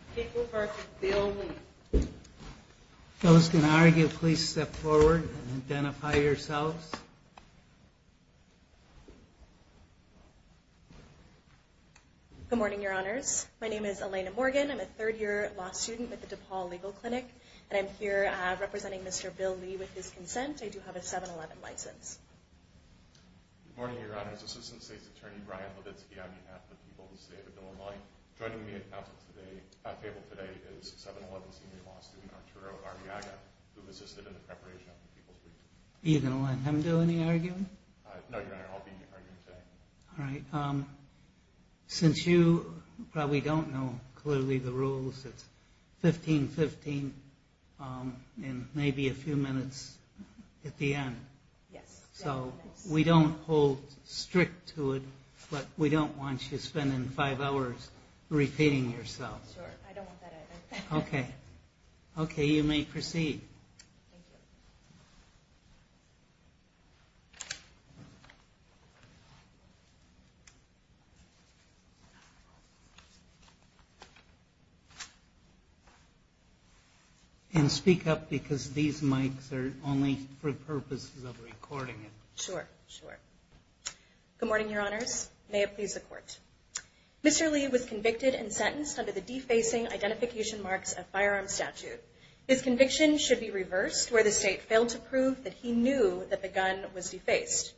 I'm here representing Mr. Bill Lee with his consent. I do have a 7-Eleven license. Good morning, Your Honors. Assistant State's Attorney Brian Levitsky on behalf of the people Joining me at table today is 7-Eleven senior law student Arturo Arriaga who assisted in the preparation of the people's meeting. Are you going to let him do any arguing? No, Your Honor. I'll be arguing today. All right. Since you probably don't know clearly the rules, it's 15-15 and maybe a few minutes at the end. So we don't hold strict to it, but we don't want you spending five hours repeating yourself. Sure. I don't want that either. Okay. Okay, you may proceed. Thank you. And speak up because these mics are only for purposes of recording. Sure, sure. Good morning, Your Honors. May it please the court. Mr. Lee was convicted and sentenced under the defacing identification marks of firearms statute. His conviction should be reversed where the state failed to prove that he knew that the gun was defaced.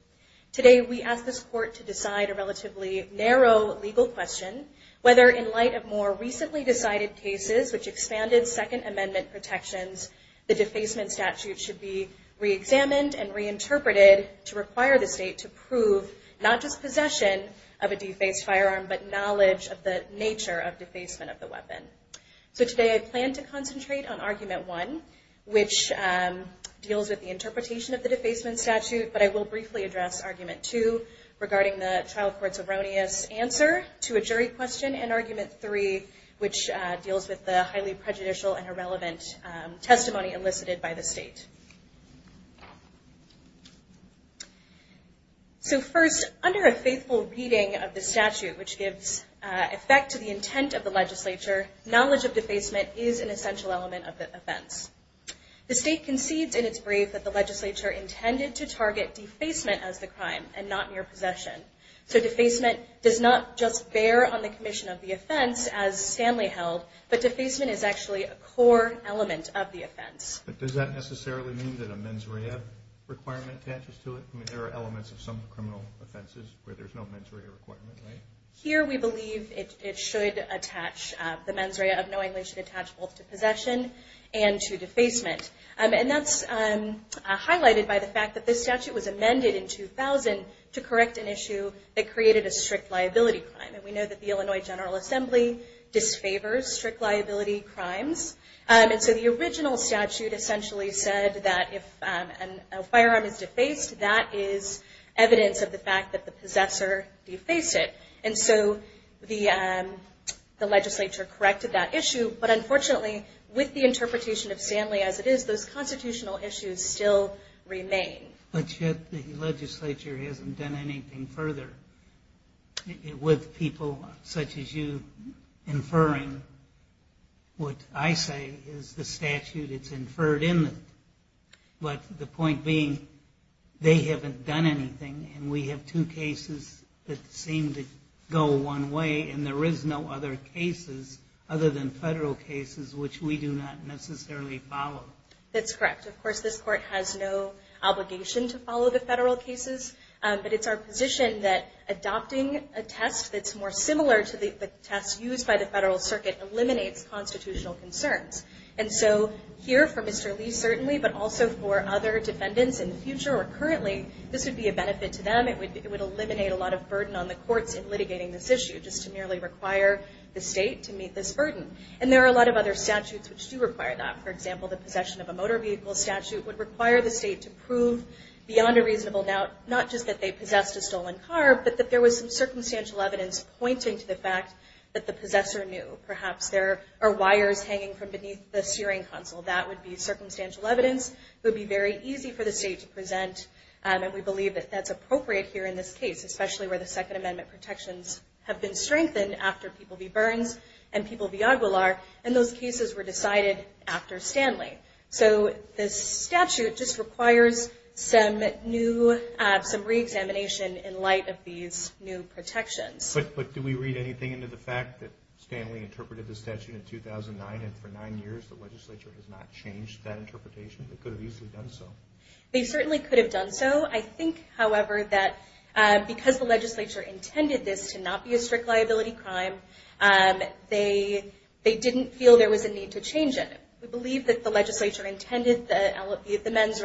Today we ask this court to decide a relatively narrow legal question whether in light of more recently decided cases which expanded Second Amendment protections, the defacement statute should be reexamined and reinterpreted to require the state to prove not just possession of a defaced firearm, but knowledge of the nature of defacement of the weapon. So today I plan to concentrate on argument one, which deals with the interpretation of the statute, and I will briefly address argument two regarding the trial court's erroneous answer to a jury question, and argument three, which deals with the highly prejudicial and irrelevant testimony elicited by the state. So first, under a faithful reading of the statute, which gives effect to the intent of the legislature, knowledge of defacement is an essential element of the offense. The state concedes in its brief that the legislature intended to target defacement as the crime and not mere possession. So defacement does not just bear on the commission of the offense as Stanley held, but defacement is actually a core element of the offense. But does that necessarily mean that a mens rea requirement attaches to it? I mean, there are elements of some criminal offenses where there's no mens rea requirement, right? Here we believe it should attach, the mens rea of knowingly should attach both to possession and to the defacement. And that's highlighted by the fact that this statute was amended in 2000 to correct an issue that created a strict liability crime. And we know that the Illinois General Assembly disfavors strict liability crimes, and so the original statute essentially said that if a firearm is defaced, that is evidence of the fact that the possessor defaced it. And so the legislature corrected that issue. But unfortunately, with the interpretation of Stanley as it is, those constitutional issues still remain. But yet the legislature hasn't done anything further with people such as you inferring what I say is the statute it's inferred in. But the point being, they haven't done anything, and we have two cases that seem to go one way, and there is no other cases other than federal cases which we do not necessarily follow. That's correct. Of course, this court has no obligation to follow the federal cases, but it's our position that adopting a test that's more similar to the test used by the federal circuit eliminates constitutional concerns. And so here, for Mr. Lee certainly, but also for other defendants in the future or currently, this would be a benefit to them. It would eliminate a lot of burden on the courts in litigating this issue, just to merely require the state to meet this burden. And there are a lot of other statutes which do require that. For example, the possession of a motor vehicle statute would require the state to prove beyond a reasonable doubt not just that they possessed a stolen car, but that there was some circumstantial evidence pointing to the fact that the possessor knew. Perhaps there are wires hanging from beneath the steering console. That would be circumstantial evidence. It would be very easy for the state to present, and we believe that that's appropriate here in this case, especially where the Second Amendment protections have been strengthened after people v. Burns and people v. Aguilar, and those cases were decided after Stanley. So this statute just requires some new, some reexamination in light of these new protections. But do we read anything into the fact that Stanley interpreted the statute in 2009 and for nine years the legislature has not changed that interpretation? They could have easily done so. They certainly could have done so. I think, however, that because the legislature intended this to not be a strict liability crime, they didn't feel there was a need to change it. We believe that the legislature intended the mens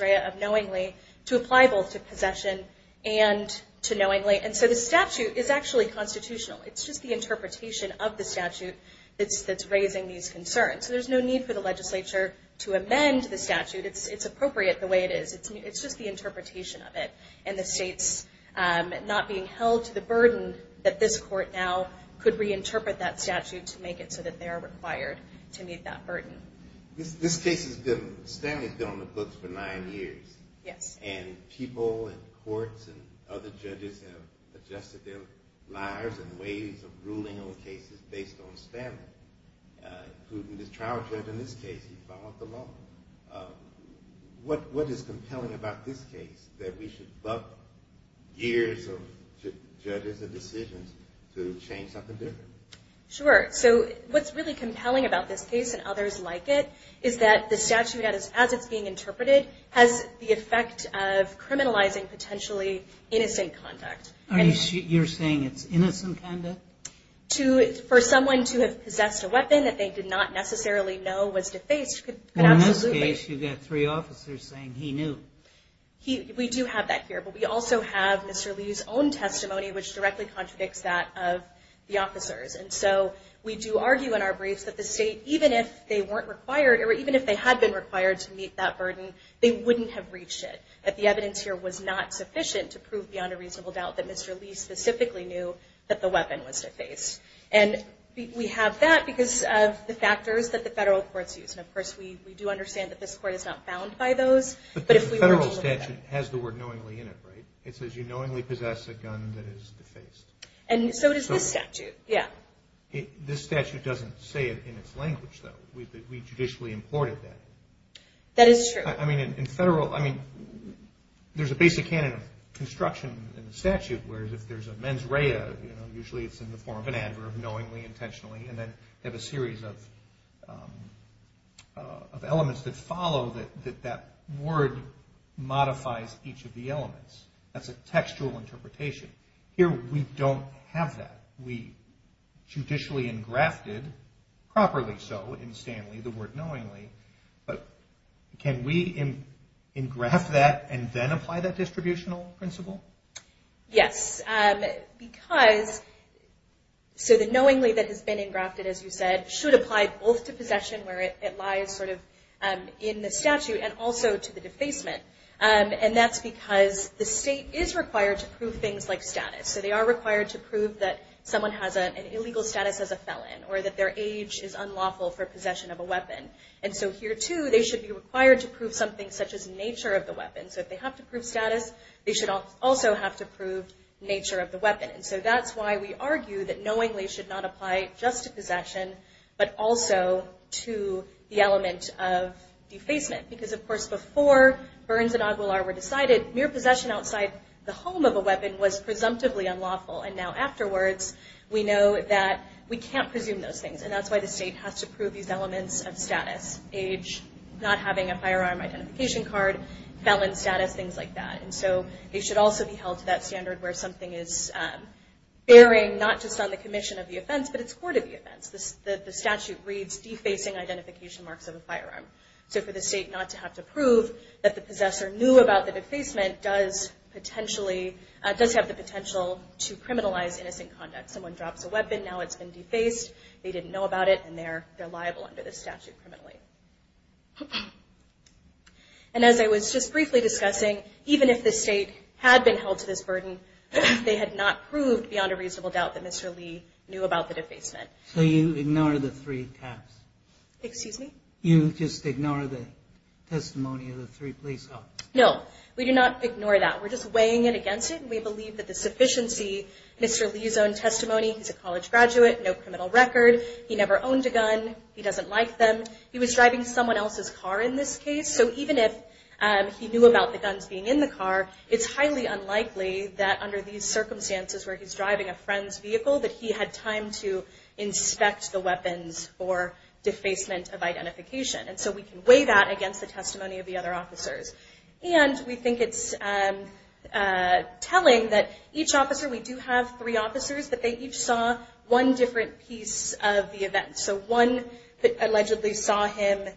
rea of knowingly to apply both to possession and to knowingly. And so the statute is actually constitutional. It's just the interpretation of the statute that's raising these concerns. So there's no need for the legislature to amend the statute. It's appropriate the way it is. It's just the interpretation of it, and the state's not being held to the burden that this court now could reinterpret that statute to make it so that they are required to meet that burden. This case has been, Stanley's been on the books for nine years. Yes. And people in courts and other judges have adjusted their lives and ways of ruling on cases based on Stanley, including this trial judge in this case. He followed the law. What is compelling about this case that we should buck years of judges' decisions to change something different? Sure. So what's really compelling about this case and others like it is that the statute, as it's being interpreted, has the effect of criminalizing potentially innocent conduct. You're saying it's innocent conduct? For someone to have possessed a weapon that they did not necessarily know was defaced could absolutely. Well, in this case, you've got three officers saying he knew. We do have that here, but we also have Mr. Lee's own testimony, which directly contradicts that of the officers. And so we do argue in our briefs that the state, even if they weren't required, or even if they had been required to meet that burden, they wouldn't have reached it, that the evidence here was not sufficient to prove beyond a reasonable doubt that Mr. Lee specifically knew that the weapon was defaced. And we have that because of the factors that the federal courts use. And, of course, we do understand that this court is not bound by those. But the federal statute has the word knowingly in it, right? It says you knowingly possess a gun that is defaced. And so does this statute, yeah. This statute doesn't say it in its language, though. We judicially imported that. That is true. I mean, in federal, I mean, there's a basic canon of construction in the statute, whereas if there's a mens rea, you know, usually it's in the form of an adverb, knowingly, intentionally, and then they have a series of elements that follow that that word modifies each of the elements. That's a textual interpretation. Here we don't have that. We judicially engrafted properly so in Stanley the word knowingly. But can we engraft that and then apply that distributional principle? Yes, because so the knowingly that has been engrafted, as you said, should apply both to possession where it lies sort of in the statute and also to the defacement. And that's because the state is required to prove things like status. So they are required to prove that someone has an illegal status as a felon or that their age is unlawful for possession of a weapon. And so here, too, they should be required to prove something such as nature of the weapon. So if they have to prove status, they should also have to prove nature of the weapon. And so that's why we argue that knowingly should not apply just to possession but also to the element of defacement. Because, of course, before Burns and Aguilar were decided, mere possession outside the home of a weapon was presumptively unlawful. And now afterwards, we know that we can't presume those things. And that's why the state has to prove these elements of status, age, not having a firearm identification card, felon status, things like that. And so they should also be held to that standard where something is bearing, not just on the commission of the offense, but it's court of the offense. The statute reads defacing identification marks of a firearm. So for the state not to have to prove that the possessor knew about the defacement does have the potential to criminalize innocent conduct. Someone drops a weapon, now it's been defaced, they didn't know about it, and they're liable under the statute criminally. And as I was just briefly discussing, even if the state had been held to this burden, they had not proved beyond a reasonable doubt that Mr. Lee knew about the defacement. So you ignore the three tabs? Excuse me? You just ignore the testimony of the three police officers? No, we do not ignore that. We're just weighing in against it, and we believe that the sufficiency, Mr. Lee's own testimony, he's a college graduate, no criminal record, he never owned a gun, he doesn't like them, he was driving someone else's car in this case. So even if he knew about the guns being in the car, it's highly unlikely that under these circumstances where he's driving a friend's vehicle that he had time to inspect the weapons for defacement of identification. And so we can weigh that against the testimony of the other officers. And we think it's telling that each officer, we do have three officers, that they each saw one different piece of the event. So one allegedly saw him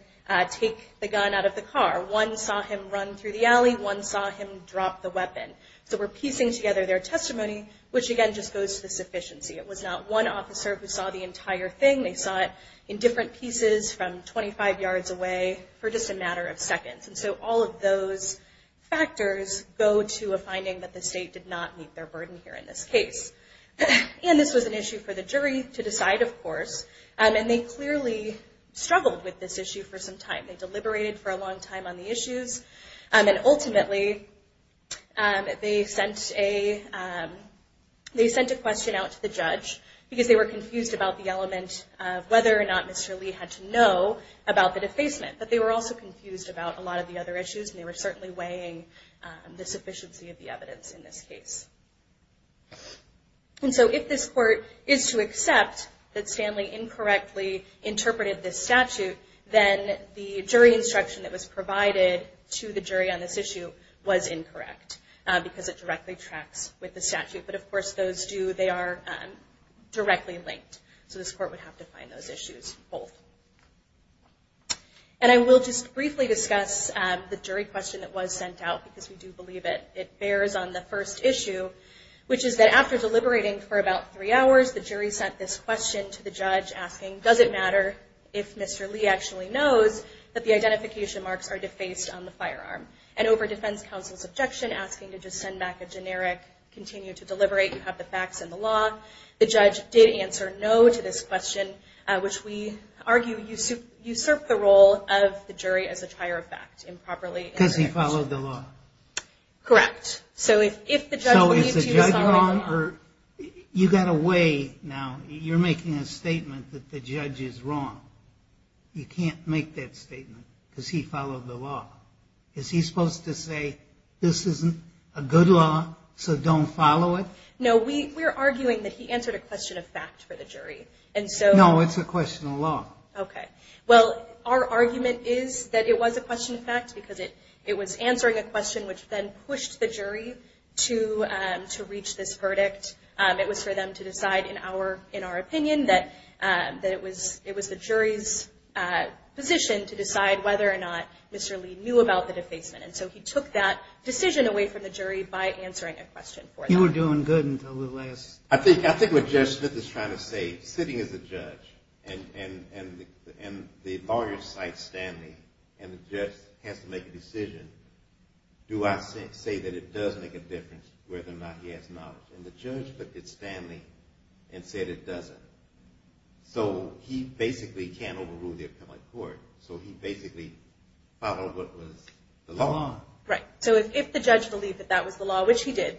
take the gun out of the car. One saw him run through the alley. One saw him drop the weapon. So we're piecing together their testimony, which, again, just goes to the sufficiency. It was not one officer who saw the entire thing. They saw it in different pieces from 25 yards away for just a matter of seconds. And so all of those factors go to a finding that the state did not meet their burden here in this case. And this was an issue for the jury to decide, of course. And they clearly struggled with this issue for some time. They deliberated for a long time on the issues. And ultimately, they sent a question out to the judge because they were confused about the element of whether or not Mr. Lee had to know about the defacement. But they were also confused about a lot of the other issues, and they were certainly weighing the sufficiency of the evidence in this case. And so if this court is to accept that Stanley incorrectly interpreted this statute, then the jury instruction that was provided to the jury on this issue was incorrect because it directly tracks with the statute. But, of course, they are directly linked. So this court would have to find those issues both. And I will just briefly discuss the jury question that was sent out because we do believe it bears on the first issue, which is that after deliberating for about three hours, the jury sent this question to the judge asking, does it matter if Mr. Lee actually knows that the identification marks are defaced on the firearm? And over defense counsel's objection, asking to just send back a generic, continue to deliberate, you have the facts and the law, the judge did answer no to this question, which we argue usurped the role of the jury as a trier of fact improperly. Because he followed the law. Correct. So if the judge believed he was following the law. You've got a way now. You're making a statement that the judge is wrong. You can't make that statement because he followed the law. Is he supposed to say, this isn't a good law, so don't follow it? No, we're arguing that he answered a question of fact for the jury. No, it's a question of law. Okay. Well, our argument is that it was a question of fact because it was answering a question which then pushed the jury to reach this verdict. It was for them to decide, in our opinion, that it was the jury's position to decide whether or not Mr. Lee knew about the defacement. And so he took that decision away from the jury by answering a question for them. You were doing good until the last. I think what Judge Smith is trying to say, sitting as a judge, and the lawyer cites Stanley and the judge has to make a decision, do I say that it does make a difference whether or not he has knowledge? And the judge looked at Stanley and said it doesn't. So he basically can't overrule the appellate court. So he basically followed what was the law. Right. So if the judge believed that that was the law, which he did,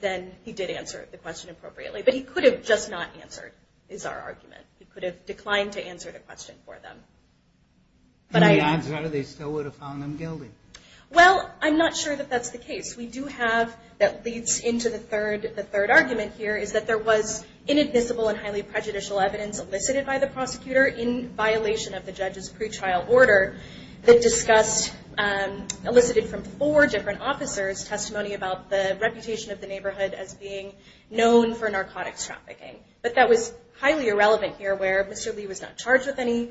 then he did answer the question appropriately. But he could have just not answered, is our argument. He could have declined to answer the question for them. And the odds are they still would have found him guilty. Well, I'm not sure that that's the case. We do have, that leads into the third argument here, is that there was inadmissible and highly prejudicial evidence elicited by the prosecutor in violation of the judge's pretrial order as being known for narcotics trafficking. But that was highly irrelevant here where Mr. Lee was not charged with any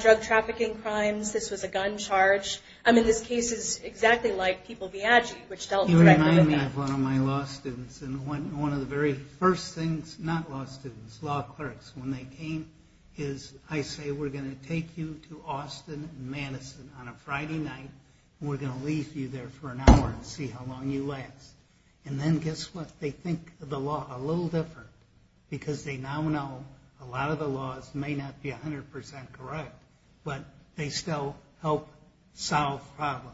drug trafficking crimes. This was a gun charge. I mean, this case is exactly like people Viaggi, which dealt directly with that. You remind me of one of my law students. And one of the very first things, not law students, law clerks, when they came is I say we're going to take you to Austin and Madison on a Friday night and we're going to leave you there for an hour and see how long you last. And then guess what? They think the law a little different because they now know a lot of the laws may not be 100% correct, but they still help solve problems.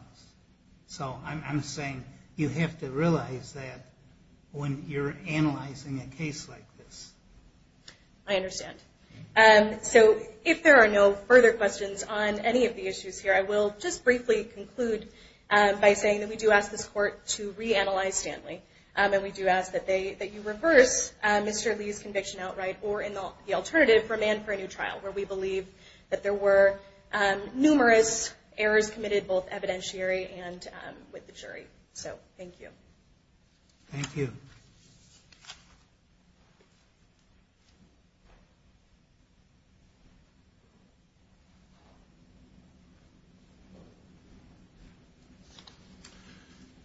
So I'm saying you have to realize that when you're analyzing a case like this. I understand. So if there are no further questions on any of the issues here, I will just briefly conclude by saying that we do ask this court to reanalyze Stanley and we do ask that you reverse Mr. Lee's conviction outright or the alternative for a man for a new trial, where we believe that there were numerous errors committed both evidentiary and with the jury. So thank you. Thank you.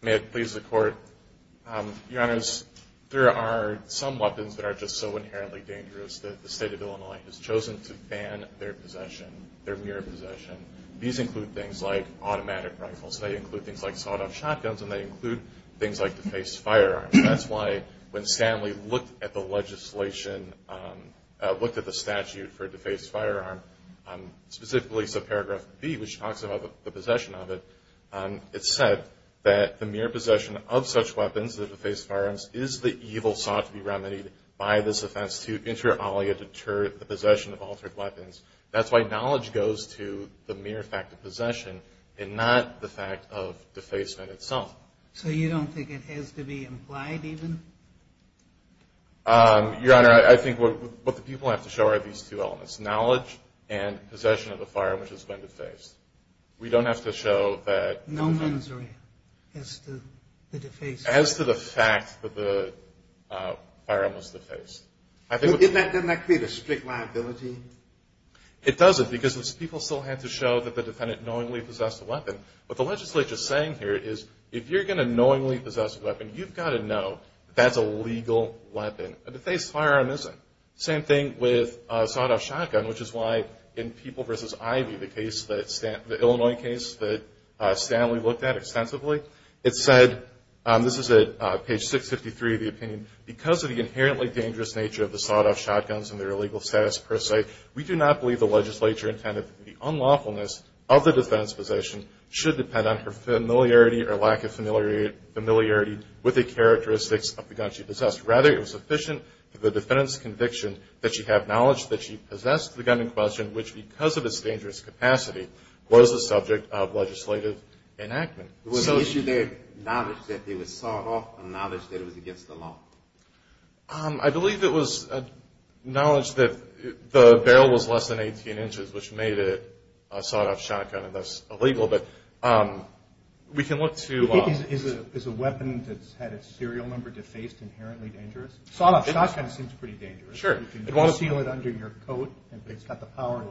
May it please the Court. Your Honors, there are some weapons that are just so inherently dangerous that the state of Illinois has chosen to ban their possession, their mere possession. These include things like automatic rifles. They include things like sawed-off shotguns, and they include things like defaced firearms. That's why when Stanley looked at the legislation, looked at the statute for a defaced firearm, specifically subparagraph B, which talks about the possession of it, it said that the mere possession of such weapons, the defaced firearms, is the evil sought to be remedied by this offense to inter alia deter the possession of altered weapons. That's why knowledge goes to the mere fact of possession and not the fact of defacement itself. So you don't think it has to be implied even? Your Honor, I think what the people have to show are these two elements, knowledge and possession of a firearm which has been defaced. We don't have to show that. No mensure as to the defacement. As to the fact that the firearm was defaced. Doesn't that create a strict liability? It doesn't because people still have to show that the defendant knowingly possessed a weapon. What the legislature is saying here is if you're going to knowingly possess a weapon, you've got to know that that's a legal weapon. A defaced firearm isn't. Same thing with a sawed-off shotgun, which is why in People v. Ivy, the Illinois case that Stanley looked at extensively, it said, this is at page 653 of the opinion, because of the inherently dangerous nature of the sawed-off shotguns and their illegal status per se, we do not believe the legislature intended that the unlawfulness of the defendant's possession should depend on her familiarity or lack of familiarity with the characteristics of the gun she possessed. Rather, it was sufficient for the defendant's conviction that she have knowledge that she possessed the gun in question, which because of its dangerous capacity, was the subject of legislative enactment. Was the issue there knowledge that it was sawed off or knowledge that it was against the law? I believe it was knowledge that the barrel was less than 18 inches, which made it a sawed-off shotgun, and that's illegal. Is a weapon that's had its serial number defaced inherently dangerous? Sawed-off shotgun seems pretty dangerous. Sure. You can seal it under your coat and it's got the power to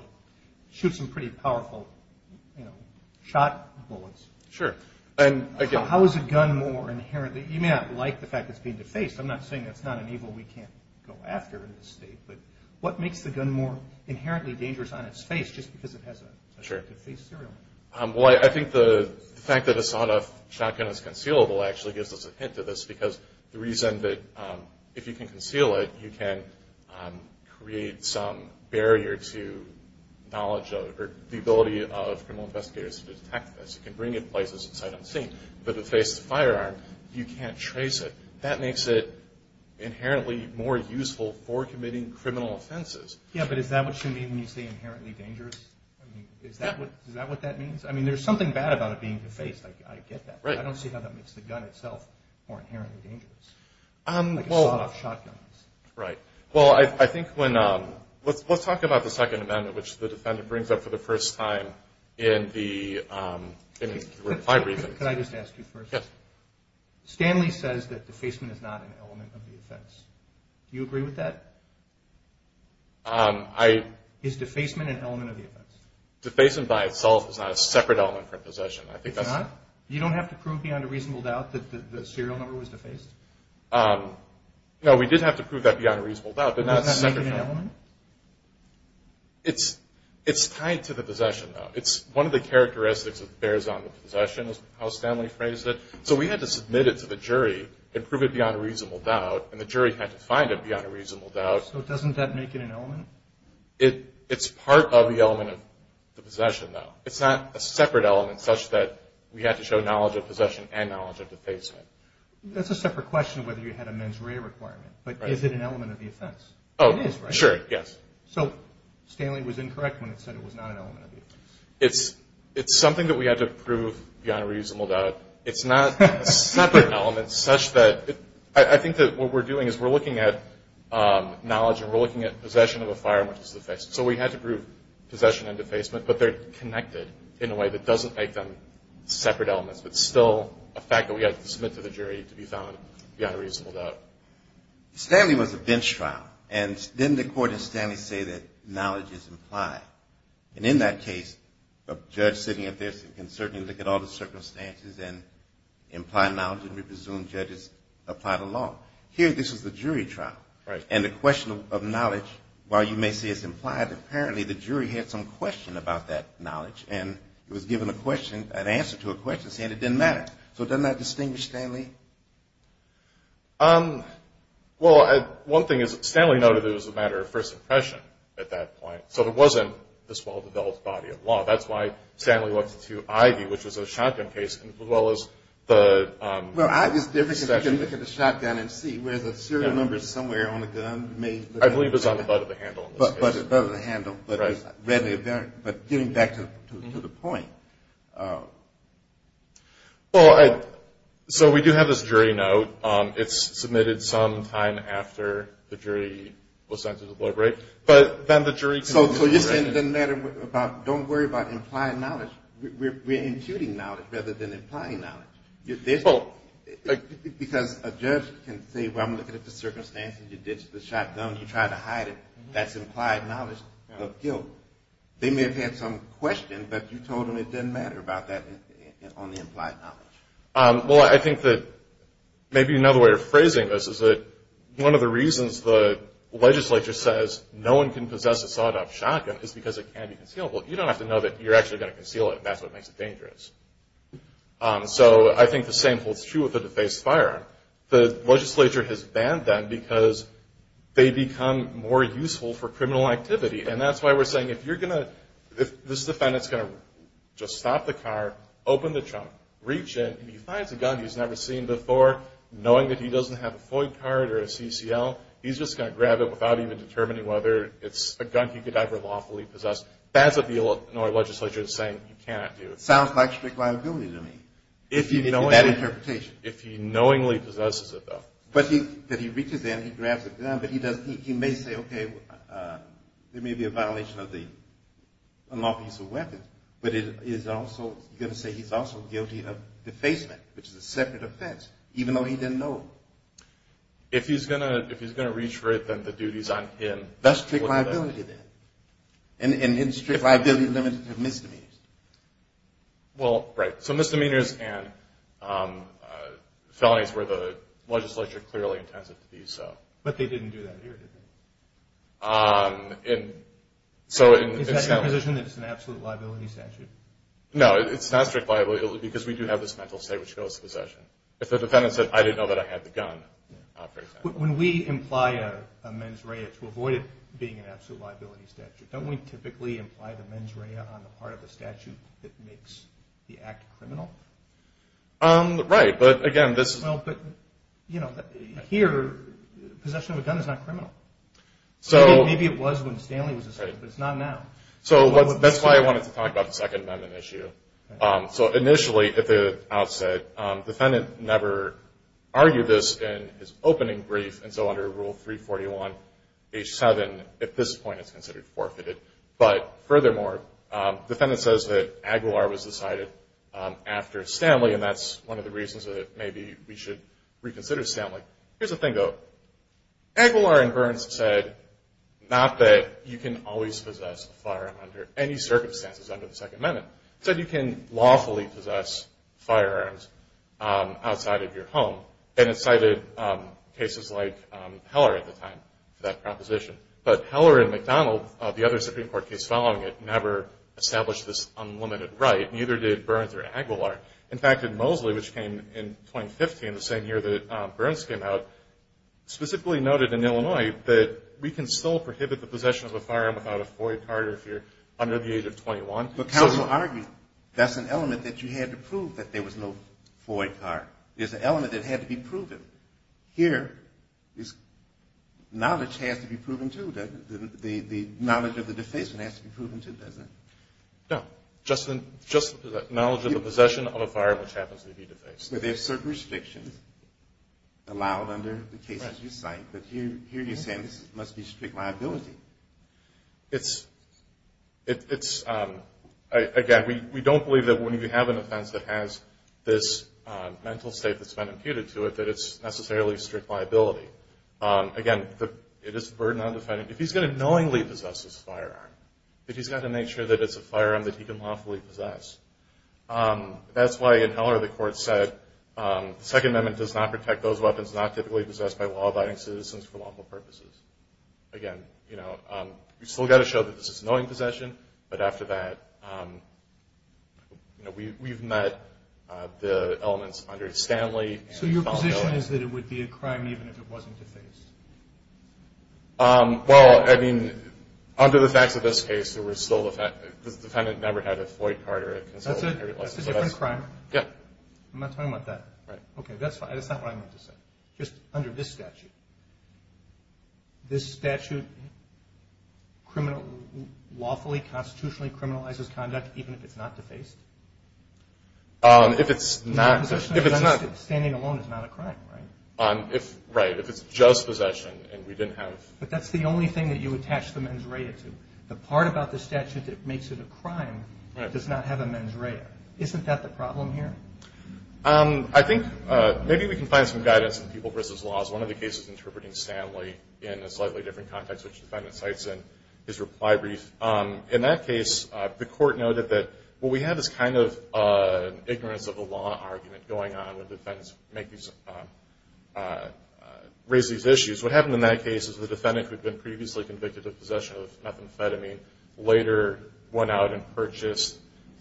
shoot some pretty powerful shot bullets. Sure. How is a gun more inherently? You may not like the fact that it's been defaced. I'm not saying it's not an evil we can't go after in this state, but what makes the gun more inherently dangerous on its face just because it has a defaced serial number? Well, I think the fact that a sawed-off shotgun is concealable actually gives us a hint of this, because the reason that if you can conceal it, you can create some barrier to knowledge or the ability of criminal investigators to detect this. You can bring it places in sight unseen, but if it faces a firearm, you can't trace it. That makes it inherently more useful for committing criminal offenses. Yeah, but is that what you mean when you say inherently dangerous? I mean, is that what that means? I mean, there's something bad about it being defaced. I get that. Right. I don't see how that makes the gun itself more inherently dangerous, like a sawed-off shotgun. Right. Well, I think when – let's talk about the Second Amendment, which the defendant brings up for the first time in the – for five reasons. Could I just ask you first? Yes. Stanley says that defacement is not an element of the offense. Do you agree with that? Is defacement an element of the offense? Defacement by itself is not a separate element from possession. It's not? You don't have to prove beyond a reasonable doubt that the serial number was defaced? No, we did have to prove that beyond a reasonable doubt, but not separately. Does that make it an element? It's tied to the possession, though. It's one of the characteristics that bears on the possession is how Stanley phrased it. So we had to submit it to the jury and prove it beyond a reasonable doubt, and the jury had to find it beyond a reasonable doubt. So doesn't that make it an element? It's part of the element of the possession, though. It's not a separate element such that we had to show knowledge of possession and knowledge of defacement. That's a separate question of whether you had a mens rea requirement, but is it an element of the offense? It is, right? Sure, yes. So Stanley was incorrect when he said it was not an element of the offense. It's something that we had to prove beyond a reasonable doubt. It's not a separate element such that I think that what we're doing is we're looking at knowledge and we're looking at possession of a firearm which is defaced. So we had to prove possession and defacement, but they're connected in a way that doesn't make them separate elements, but still a fact that we had to submit to the jury to be found beyond a reasonable doubt. Stanley was a bench trial, and didn't the court in Stanley say that knowledge is implied? And in that case, a judge sitting up there can certainly look at all the circumstances and imply knowledge and we presume judges apply the law. Here, this is the jury trial. And the question of knowledge, while you may say it's implied, apparently the jury had some question about that knowledge, and it was given an answer to a question saying it didn't matter. So doesn't that distinguish Stanley? Well, one thing is Stanley noted it was a matter of first impression at that point. So it wasn't this well-developed body of law. That's why Stanley went to Ivy, which was a shotgun case, as well as the session. Well, Ivy is different because you can look at the shotgun and see, whereas the serial number is somewhere on the gun. I believe it was on the butt of the handle. But getting back to the point. So we do have this jury note. It's submitted some time after the jury was sent to deliberate. So you're saying it doesn't matter. Don't worry about implying knowledge. We're imputing knowledge rather than implying knowledge. Because a judge can say, well, I'm looking at the circumstances. You ditched the shotgun. You tried to hide it. That's implied knowledge of guilt. They may have had some question, but you told them it didn't matter about that on the implied knowledge. Well, I think that maybe another way of phrasing this is that one of the reasons the legislature says no one can possess a sawed-off shotgun is because it can't be concealable. You don't have to know that you're actually going to conceal it. That's what makes it dangerous. So I think the same holds true with the defaced firearm. The legislature has banned them because they become more useful for criminal activity. And that's why we're saying if you're going to – if this defendant is going to just stop the car, open the trunk, reach in, and he finds a gun he's never seen before, knowing that he doesn't have a FOIA card or a CCL, he's just going to grab it without even determining whether it's a gun he could ever lawfully possess. That's what the Illinois legislature is saying you cannot do. Sounds like strict liability to me. That interpretation. If he knowingly possesses it, though. But he reaches in, he grabs the gun, but he may say, okay, there may be a violation of the unlawful use of weapons, but he's also going to say he's also guilty of defacement, which is a separate offense, even though he didn't know. If he's going to reach for it, then the duty is on him. That's strict liability then. And strict liability is limited to misdemeanors. Well, right. So misdemeanors and felonies where the legislature clearly intends it to be so. But they didn't do that here, did they? Is that your position, that it's an absolute liability statute? No, it's not strict liability because we do have this mental state which goes to possession. If the defendant said, I didn't know that I had the gun, for example. When we imply a mens rea to avoid it being an absolute liability statute, don't we typically imply the mens rea on the part of the statute that makes the act criminal? Right. But, again, this is – Well, but, you know, here possession of a gun is not criminal. Maybe it was when Stanley was a student, but it's not now. So that's why I wanted to talk about the Second Amendment issue. So initially, at the outset, the defendant never argued this in his opening brief, and so under Rule 341H7, at this point, it's considered forfeited. But, furthermore, the defendant says that Aguilar was decided after Stanley, and that's one of the reasons that maybe we should reconsider Stanley. Here's the thing, though. Aguilar and Burns said not that you can always possess a firearm under any circumstances under the Second Amendment. They said you can lawfully possess firearms outside of your home. And it cited cases like Heller at the time for that proposition. But Heller and McDonald, the other Supreme Court case following it, never established this unlimited right, neither did Burns or Aguilar. In fact, in Mosley, which came in 2015, the same year that Burns came out, specifically noted in Illinois that we can still prohibit the possession of a firearm without a FOIA card if you're under the age of 21. But counsel argued that's an element that you had to prove that there was no FOIA card. It's an element that had to be proven. Here, knowledge has to be proven, too, doesn't it? The knowledge of the defacement has to be proven, too, doesn't it? No. Just the knowledge of the possession of a firearm, which happens to be defaced. But there's certain restrictions allowed under the cases you cite. But here you're saying this must be strict liability. It's, again, we don't believe that when you have an offense that has this mental state that's been imputed to it, that it's necessarily strict liability. Again, it is a burden on the defendant. If he's going to knowingly possess this firearm, if he's got to make sure that it's a firearm that he can lawfully possess, that's why in Heller the court said the Second Amendment does not protect those weapons not typically possessed by law-abiding citizens for lawful purposes. Again, you've still got to show that this is a knowing possession. But after that, we've met the elements under Stanley. So your position is that it would be a crime even if it wasn't defaced? Well, I mean, under the facts of this case, the defendant never had a FOIA card or a concealed carry license. That's a different crime? Yeah. I'm not talking about that. Right. Okay, that's not what I meant to say. Just under this statute. This statute lawfully, constitutionally criminalizes conduct even if it's not defaced? If it's not. Standing alone is not a crime, right? Right. If it's just possession and we didn't have. But that's the only thing that you attach the mens rea to. The part about the statute that makes it a crime does not have a mens rea. Isn't that the problem here? I think maybe we can find some guidance in people versus laws. One of the cases interpreting Stanley in a slightly different context, which the defendant cites in his reply brief. In that case, the court noted that, well, we have this kind of ignorance of the law argument going on when defendants raise these issues. What happened in that case is the defendant, who had been previously convicted of possession of methamphetamine, later went out and purchased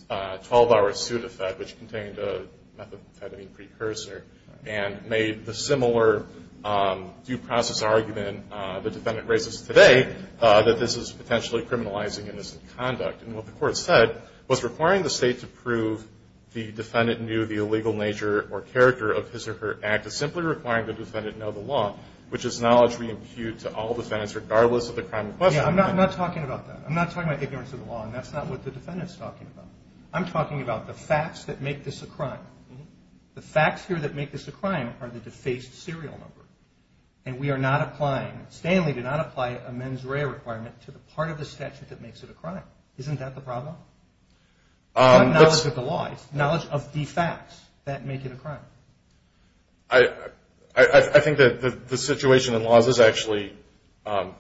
a 12-hour suit of fed, which contained a methamphetamine precursor, and made the similar due process argument the defendant raises today, that this is potentially criminalizing innocent conduct. And what the court said was requiring the state to prove the defendant knew the illegal nature or character of his or her act is simply requiring the defendant know the law, which is knowledge we impute to all defendants, regardless of the crime in question. I'm not talking about that. I'm not talking about ignorance of the law, and that's not what the defendant is talking about. I'm talking about the facts that make this a crime. The facts here that make this a crime are the defaced serial number, and we are not applying, Stanley did not apply a mens rea requirement to the part of the statute that makes it a crime. Isn't that the problem? It's not knowledge of the law. It's knowledge of the facts that make it a crime. I think that the situation in laws is actually,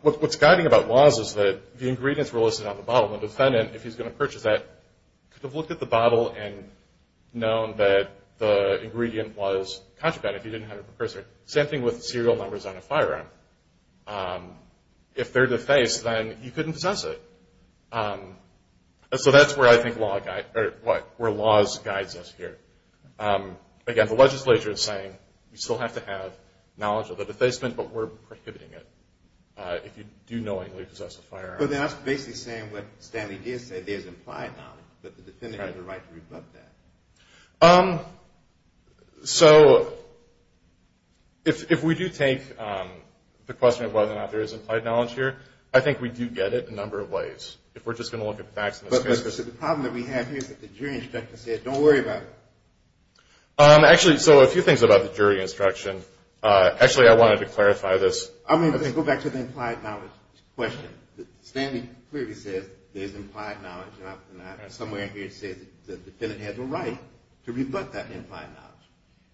what's guiding about laws is that the ingredients were listed on the bottle, and the defendant, if he's going to purchase that, could have looked at the bottle and known that the ingredient was contraband if he didn't have a precursor. Same thing with serial numbers on a firearm. If they're defaced, then you couldn't possess it. So that's where I think laws guides us here. Again, the legislature is saying we still have to have knowledge of the if you do knowingly possess a firearm. So then that's basically saying what Stanley did say, there's implied knowledge, but the defendant has a right to rebut that. So if we do take the question of whether or not there is implied knowledge here, I think we do get it in a number of ways. If we're just going to look at facts in this case. But the problem that we have here is that the jury instruction says, don't worry about it. Actually, so a few things about the jury instruction. Actually, I wanted to clarify this. Go back to the implied knowledge question. Stanley clearly says there's implied knowledge. Somewhere in here it says the defendant has a right to rebut that implied knowledge.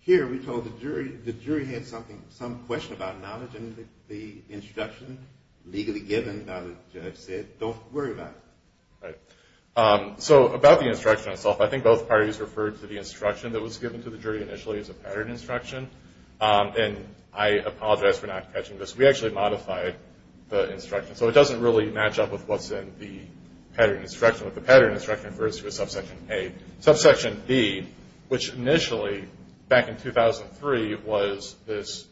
Here we told the jury, the jury had some question about knowledge and the instruction legally given by the judge said, don't worry about it. Right. So about the instruction itself, I think both parties referred to the instruction that was given to the jury initially as a pattern instruction. And I apologize for not catching this. We actually modified the instruction. So it doesn't really match up with what's in the pattern instruction, but the pattern instruction refers to a subsection A. Subsection B, which initially back in 2003 was this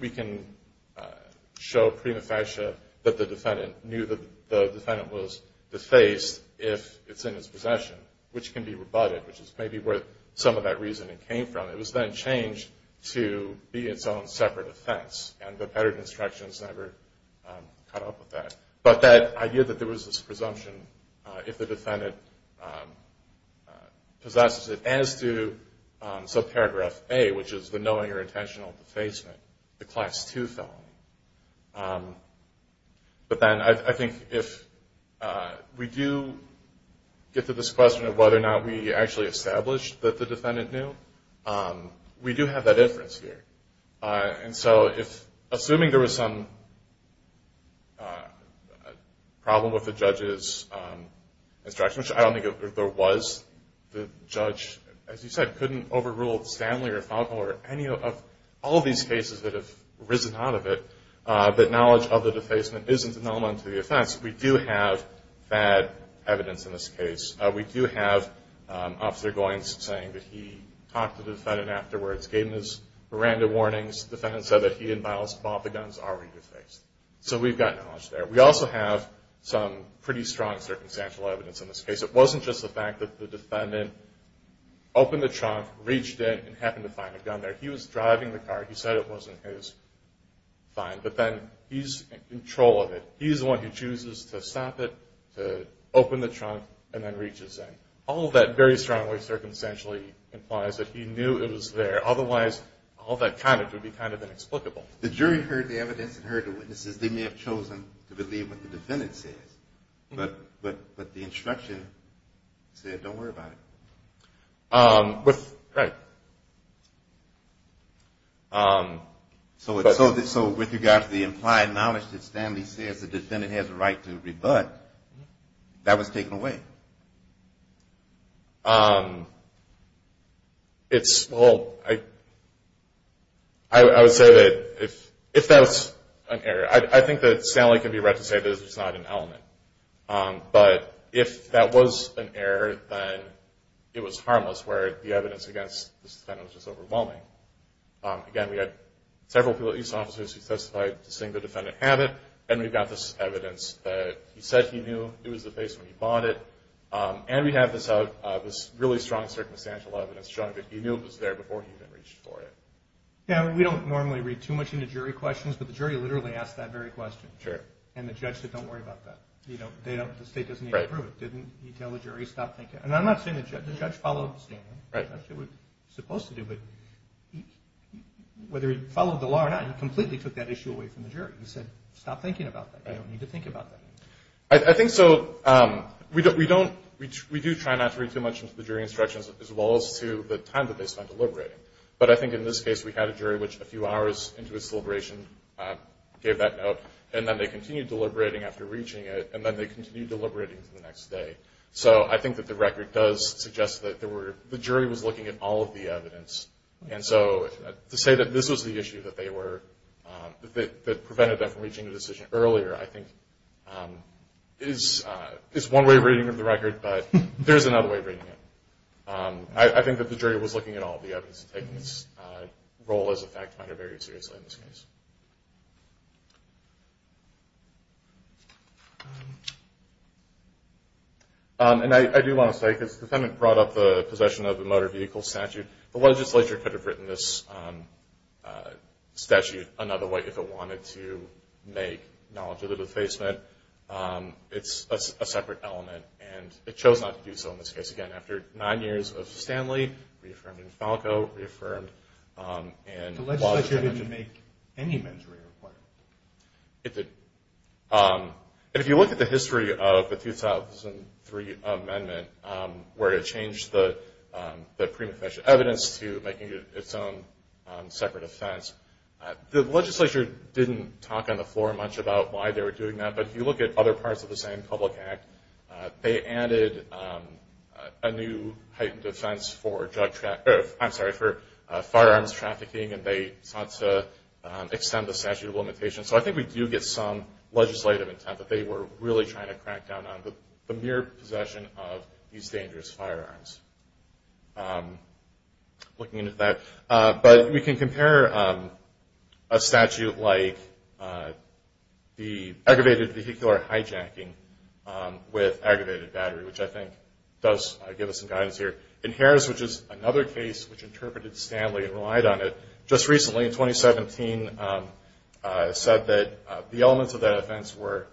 we can show prima facie that the defendant knew that the defendant was defaced if it's in his possession, which can be rebutted, which is maybe where some of that reasoning came from. It was then changed to be its own separate offense, and the pattern instructions never caught up with that. But that idea that there was this presumption if the defendant possesses it, as do subparagraph A, which is the knowing or intentional defacement, the Class II felony. But then I think if we do get to this question of whether or not we actually established that the defendant knew, we do have that inference here. And so assuming there was some problem with the judge's instruction, which I don't think there was, the judge, as you said, couldn't overrule Stanley or Falco or any of all these cases that have risen out of it, that knowledge of the defacement isn't an element to the offense. We do have bad evidence in this case. We do have Officer Goins saying that he talked to the defendant afterwards, gave him his Miranda warnings. The defendant said that he and Bob, the guns, already defaced. So we've got knowledge there. We also have some pretty strong circumstantial evidence in this case. It wasn't just the fact that the defendant opened the trunk, reached in, and happened to find a gun there. He was driving the car. He said it wasn't his. Fine. But then he's in control of it. He's the one who chooses to stop it, to open the trunk, and then reaches in. All of that very strongly circumstantially implies that he knew it was there. Otherwise, all that comment would be kind of inexplicable. The jury heard the evidence and heard the witnesses. They may have chosen to believe what the defendant says. But the instruction said don't worry about it. Right. So with regards to the implied knowledge that Stanley says the defendant has a right to rebut, that was taken away. Well, I would say that if that was an error, I think that Stanley can be read to say that it's not an element. But if that was an error, then it was harmless, where the evidence against this defendant was just overwhelming. Again, we had several police officers who testified to seeing the defendant have it, and we've got this evidence that he said he knew it was the face when he bought it. And we have this really strong circumstantial evidence showing that he knew it was there before he even reached for it. Yeah, we don't normally read too much into jury questions, but the jury literally asked that very question. Sure. And the judge said don't worry about that. The state doesn't need to approve it. Didn't he tell the jury stop thinking? And I'm not saying the judge followed Stanley. That's what he was supposed to do. But whether he followed the law or not, he completely took that issue away from the jury. He said stop thinking about that. You don't need to think about that. I think so. We do try not to read too much into the jury instructions, as well as to the time that they spend deliberating. But I think in this case we had a jury which a few hours into its deliberation gave that note, and then they continued deliberating after reaching it, and then they continued deliberating to the next day. So I think that the record does suggest that the jury was looking at all of the evidence. And so to say that this was the issue that they were – that prevented them from reaching a decision earlier, I think is one way of reading the record, but there's another way of reading it. I think that the jury was looking at all of the evidence and taking its role as a fact finder very seriously in this case. And I do want to say, because the defendant brought up the possession of the motor vehicle statute, the legislature could have written this statute another way if it wanted to make knowledge of the defacement. It's a separate element, and it chose not to do so in this case. Again, after nine years of Stanley, reaffirmed in Falco, reaffirmed in – The legislature didn't make any mentoring requirements. It did. If you look at the history of the 2003 amendment, where it changed the prima facie evidence to making it its own separate offense, the legislature didn't talk on the floor much about why they were doing that, but if you look at other parts of the same public act, they added a new heightened defense for firearms trafficking, and they sought to extend the statute of limitations. So I think we do get some legislative intent that they were really trying to crack down on the mere possession of these dangerous firearms. Looking into that. But we can compare a statute like the aggravated vehicular hijacking with aggravated battery, which I think does give us some guidance here. In Harris, which is another case which interpreted Stanley and relied on it, just recently, in 2017, said that the elements of that offense were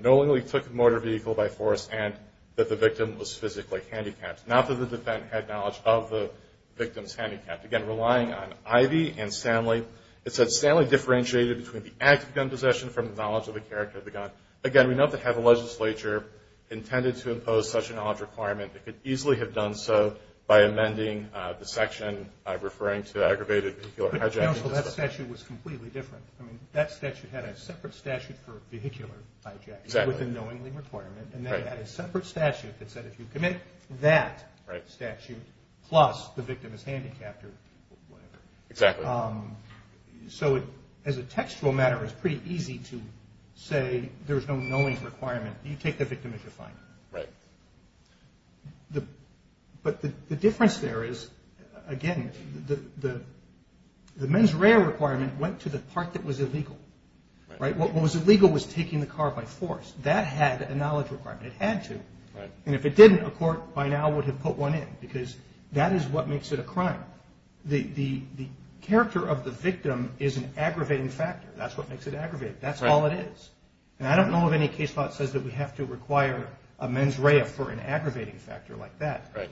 knowingly took a motor vehicle by force and that the victim was physically handicapped, not that the defendant had knowledge of the victim's handicap. Again, relying on Ivey and Stanley. It said Stanley differentiated between the act of gun possession from the knowledge of the character of the gun. Again, we know that to have a legislature intended to impose such a knowledge requirement, it could easily have done so by amending the section referring to aggravated vehicular hijacking. But counsel, that statute was completely different. I mean, that statute had a separate statute for vehicular hijacking with a knowingly requirement. And they had a separate statute that said if you commit that statute plus the victim is handicapped or whatever. Exactly. So as a textual matter, it's pretty easy to say there's no knowing requirement. You take the victim as your fine. Right. But the difference there is, again, the mens rea requirement went to the part that was illegal, right? What was illegal was taking the car by force. That had a knowledge requirement. It had to. And if it didn't, a court by now would have put one in because that is what makes it a crime. The character of the victim is an aggravating factor. That's what makes it aggravating. That's all it is. And I don't know of any case law that says that we have to require a mens rea for an aggravating factor like that. Right.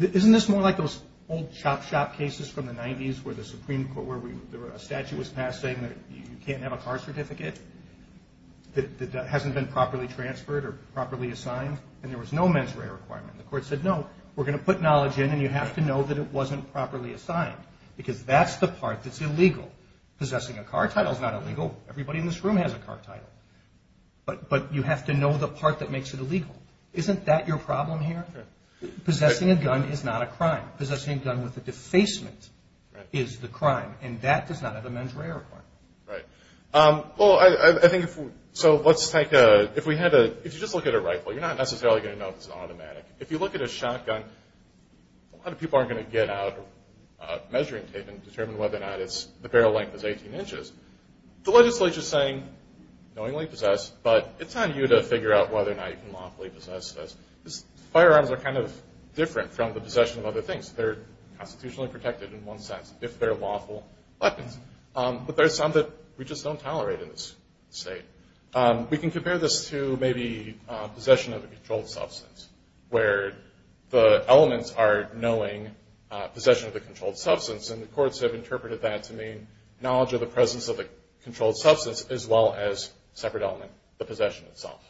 Isn't this more like those old chop shop cases from the 90s where the Supreme Court, where a statute was passed saying that you can't have a car certificate that hasn't been properly transferred or properly assigned and there was no mens rea requirement? The court said, no, we're going to put knowledge in and you have to know that it wasn't properly assigned because that's the part that's illegal. Possessing a car title is not illegal. Everybody in this room has a car title. But you have to know the part that makes it illegal. Isn't that your problem here? Possessing a gun is not a crime. Possessing a gun with a defacement is the crime. And that does not have a mens rea requirement. Right. Well, I think if we just look at a rifle, you're not necessarily going to know if it's an automatic. If you look at a shotgun, a lot of people aren't going to get out a measuring tape and determine whether or not the barrel length is 18 inches. The legislature is saying knowingly possess, but it's on you to figure out whether or not you can lawfully possess this. Firearms are kind of different from the possession of other things. They're constitutionally protected in one sense, if they're lawful weapons. But there are some that we just don't tolerate in this state. We can compare this to maybe possession of a controlled substance, where the elements are knowing possession of the controlled substance, and the courts have interpreted that to mean knowledge of the presence of the controlled substance as well as a separate element, the possession itself.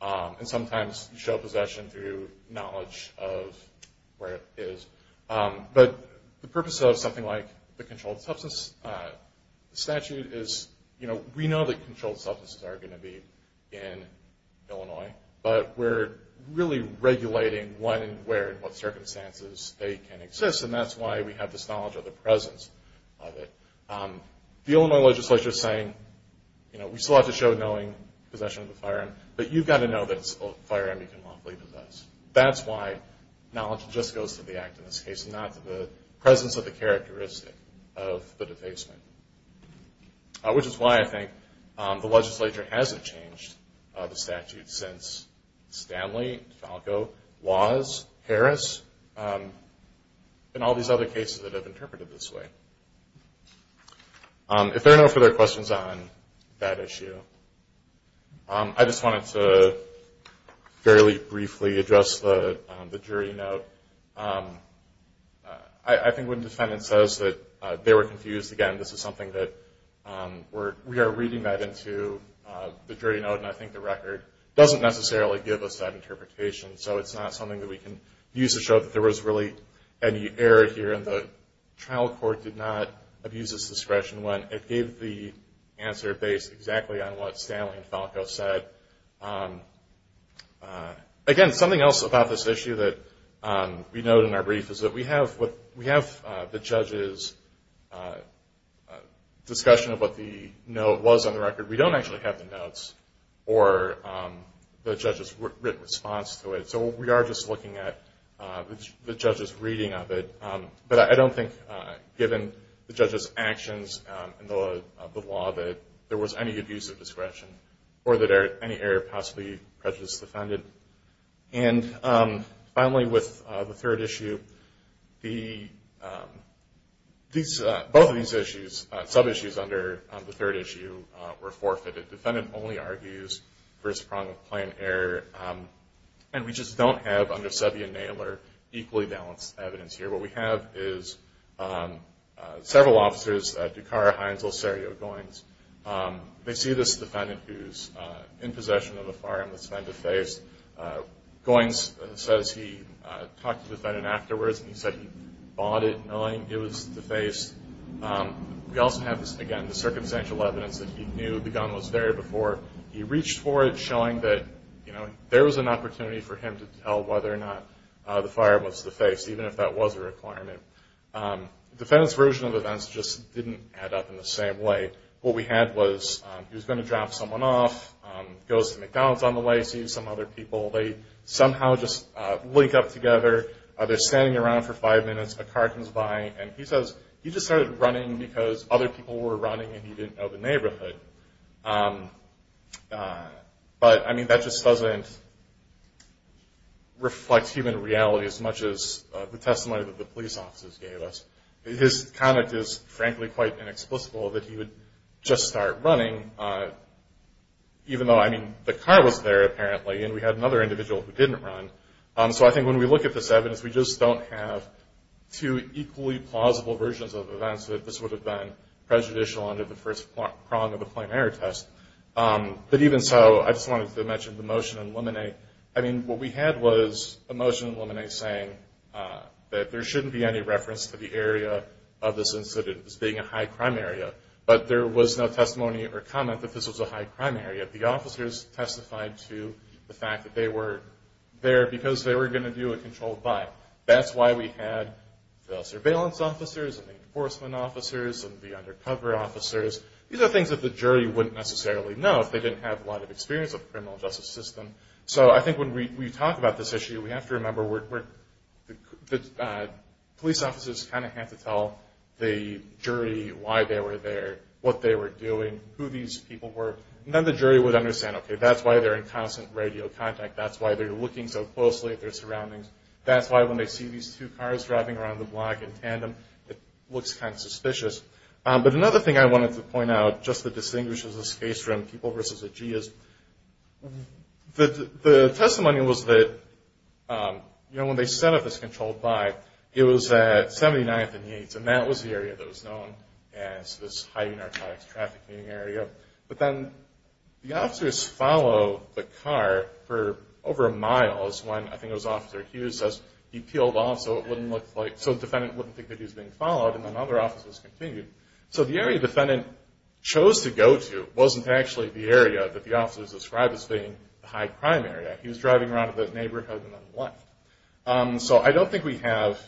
And sometimes you show possession through knowledge of where it is. But the purpose of something like the controlled substance statute is, you know, we know that controlled substances are going to be in Illinois, but we're really regulating when and where and what circumstances they can exist, and that's why we have this knowledge of the presence of it. The Illinois legislature is saying, you know, we still have to show knowing possession of the firearm, but you've got to know that it's a firearm you can lawfully possess. That's why knowledge just goes to the act in this case and not to the presence of the characteristic of the defacement, which is why I think the legislature hasn't changed the statute since Stanley, Falco, Laws, Harris. And all these other cases that have interpreted this way. If there are no further questions on that issue, I just wanted to fairly briefly address the jury note. I think when defendant says that they were confused, again, this is something that we are reading that into the jury note, and I think the record doesn't necessarily give us that interpretation, so it's not something that we can use to show that there was really any error here, and the trial court did not abuse its discretion when it gave the answer based exactly on what Stanley and Falco said. Again, something else about this issue that we note in our brief is that we have the judge's discussion of what the note was on the record. We don't actually have the notes or the judge's written response to it, so we are just looking at the judge's reading of it, but I don't think given the judge's actions and the law that there was any abuse of discretion or that any error possibly prejudiced the defendant. And finally, with the third issue, both of these issues, sub-issues under the third issue were forfeited. Defendant only argues first prong of plan error, and we just don't have under Sevey and Naylor equally balanced evidence here. What we have is several officers, Ducar, Hines, Losario, Goins, they see this defendant who's in possession of a firearm that's been defaced. Goins says he talked to the defendant afterwards and he said he bought it knowing it was defaced. We also have this, again, the circumstantial evidence that he knew the gun was there before. He reached for it showing that there was an opportunity for him to tell whether or not the fire was defaced, even if that was a requirement. The defendant's version of events just didn't add up in the same way. What we had was he was going to drop someone off, goes to McDonald's on the way, sees some other people, they somehow just link up together, they're standing around for five minutes, a car comes by, and he says he just started running because other people were running and he didn't know the neighborhood. But, I mean, that just doesn't reflect human reality as much as the testimony that the police officers gave us. His conduct is, frankly, quite inexplicable that he would just start running, even though, I mean, the car was there, apparently, and we had another individual who didn't run. So I think when we look at this evidence, we just don't have two equally plausible versions of events that this would have been prejudicial under the first prong of the plain error test. But even so, I just wanted to mention the motion in Lemonade. I mean, what we had was a motion in Lemonade saying that there shouldn't be any reference to the area of this incident as being a high-crime area, but there was no testimony or comment that this was a high-crime area. The officers testified to the fact that they were there because they were going to do a controlled by. That's why we had the surveillance officers and the enforcement officers and the undercover officers. These are things that the jury wouldn't necessarily know if they didn't have a lot of experience of the criminal justice system. So I think when we talk about this issue, we have to remember that police officers kind of have to tell the jury why they were there, what they were doing, who these people were. And then the jury would understand, okay, that's why they're in constant radio contact. That's why they're looking so closely at their surroundings. That's why when they see these two cars driving around the block in tandem, it looks kind of suspicious. But another thing I wanted to point out, just to distinguish this case from people versus a G, is the testimony was that when they set up this controlled by, it was at 79th and Yates, and that was the area that was known as this high narcotics trafficking area. But then the officers follow the car for over a mile is when, I think it was Officer Hughes says, he peeled off so it wouldn't look like, so the defendant wouldn't think that he was being followed, and then other officers continued. So the area the defendant chose to go to wasn't actually the area that the officers described as being the high-crime area. He was driving around the neighborhood and then left. So I don't think we have,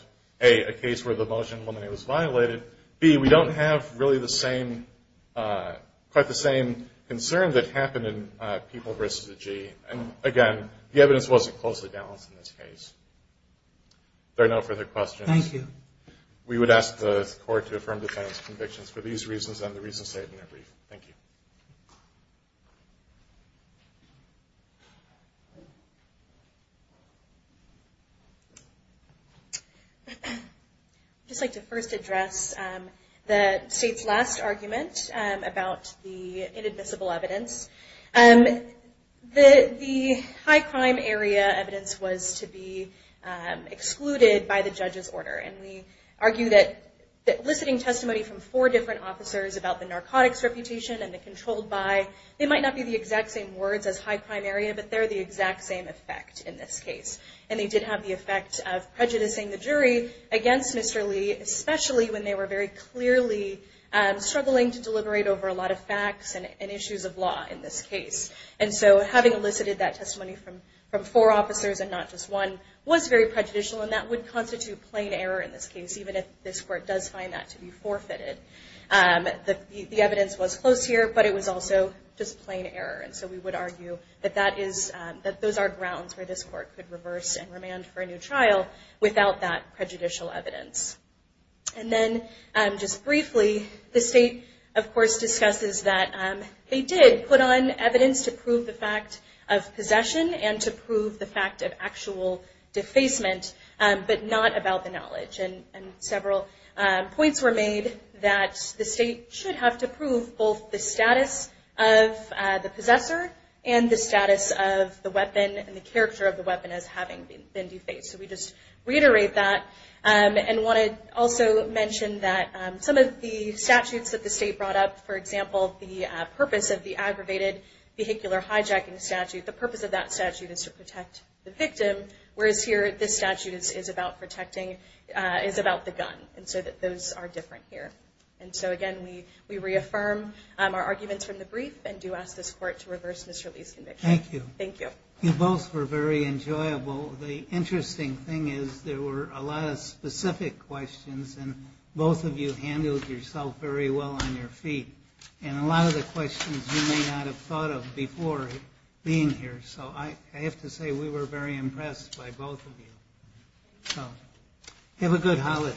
A, a case where the motion when it was violated. B, we don't have really the same, quite the same concern that happened in people versus a G. And again, the evidence wasn't closely balanced in this case. If there are no further questions. Thank you. We would ask the court to affirm the defendant's convictions for these reasons and the reasons stated in their brief. Thank you. I'd just like to first address the State's last argument about the inadmissible evidence. The high-crime area evidence was to be excluded by the judge's order. And we argue that eliciting testimony from four different officers about the narcotics reputation and the controlled by, they might not be the exact same words as high-crime area, but they're the exact same effect in this case. And they did have the effect of prejudicing the jury against Mr. Lee, especially when they were very clearly struggling to deliberate over a lot of facts and issues of law in this case. And so having elicited that testimony from four officers and not just one was very prejudicial, and that would constitute plain error in this case, even if this court does find that to be forfeited. The evidence was close here, but it was also just plain error. And so we would argue that those are grounds where this court could reverse and remand for a new trial without that prejudicial evidence. And then just briefly, the State, of course, discusses that they did put on evidence to prove the fact of possession and to prove the fact of actual defacement, but not about the knowledge. And several points were made that the State should have to prove both the status of the possessor and the status of the weapon and the character of the weapon as having been defaced. So we just reiterate that and want to also mention that some of the statutes that the State brought up, for example, the purpose of the aggravated vehicular hijacking statute, the purpose of that statute is to protect the victim, whereas here this statute is about the gun. And so those are different here. And so, again, we reaffirm our arguments from the brief and do ask this court to reverse Mr. Lee's conviction. Thank you. You both were very enjoyable. The interesting thing is there were a lot of specific questions, and both of you handled yourself very well on your feet. And a lot of the questions you may not have thought of before being here. So I have to say we were very impressed by both of you. So have a good holiday.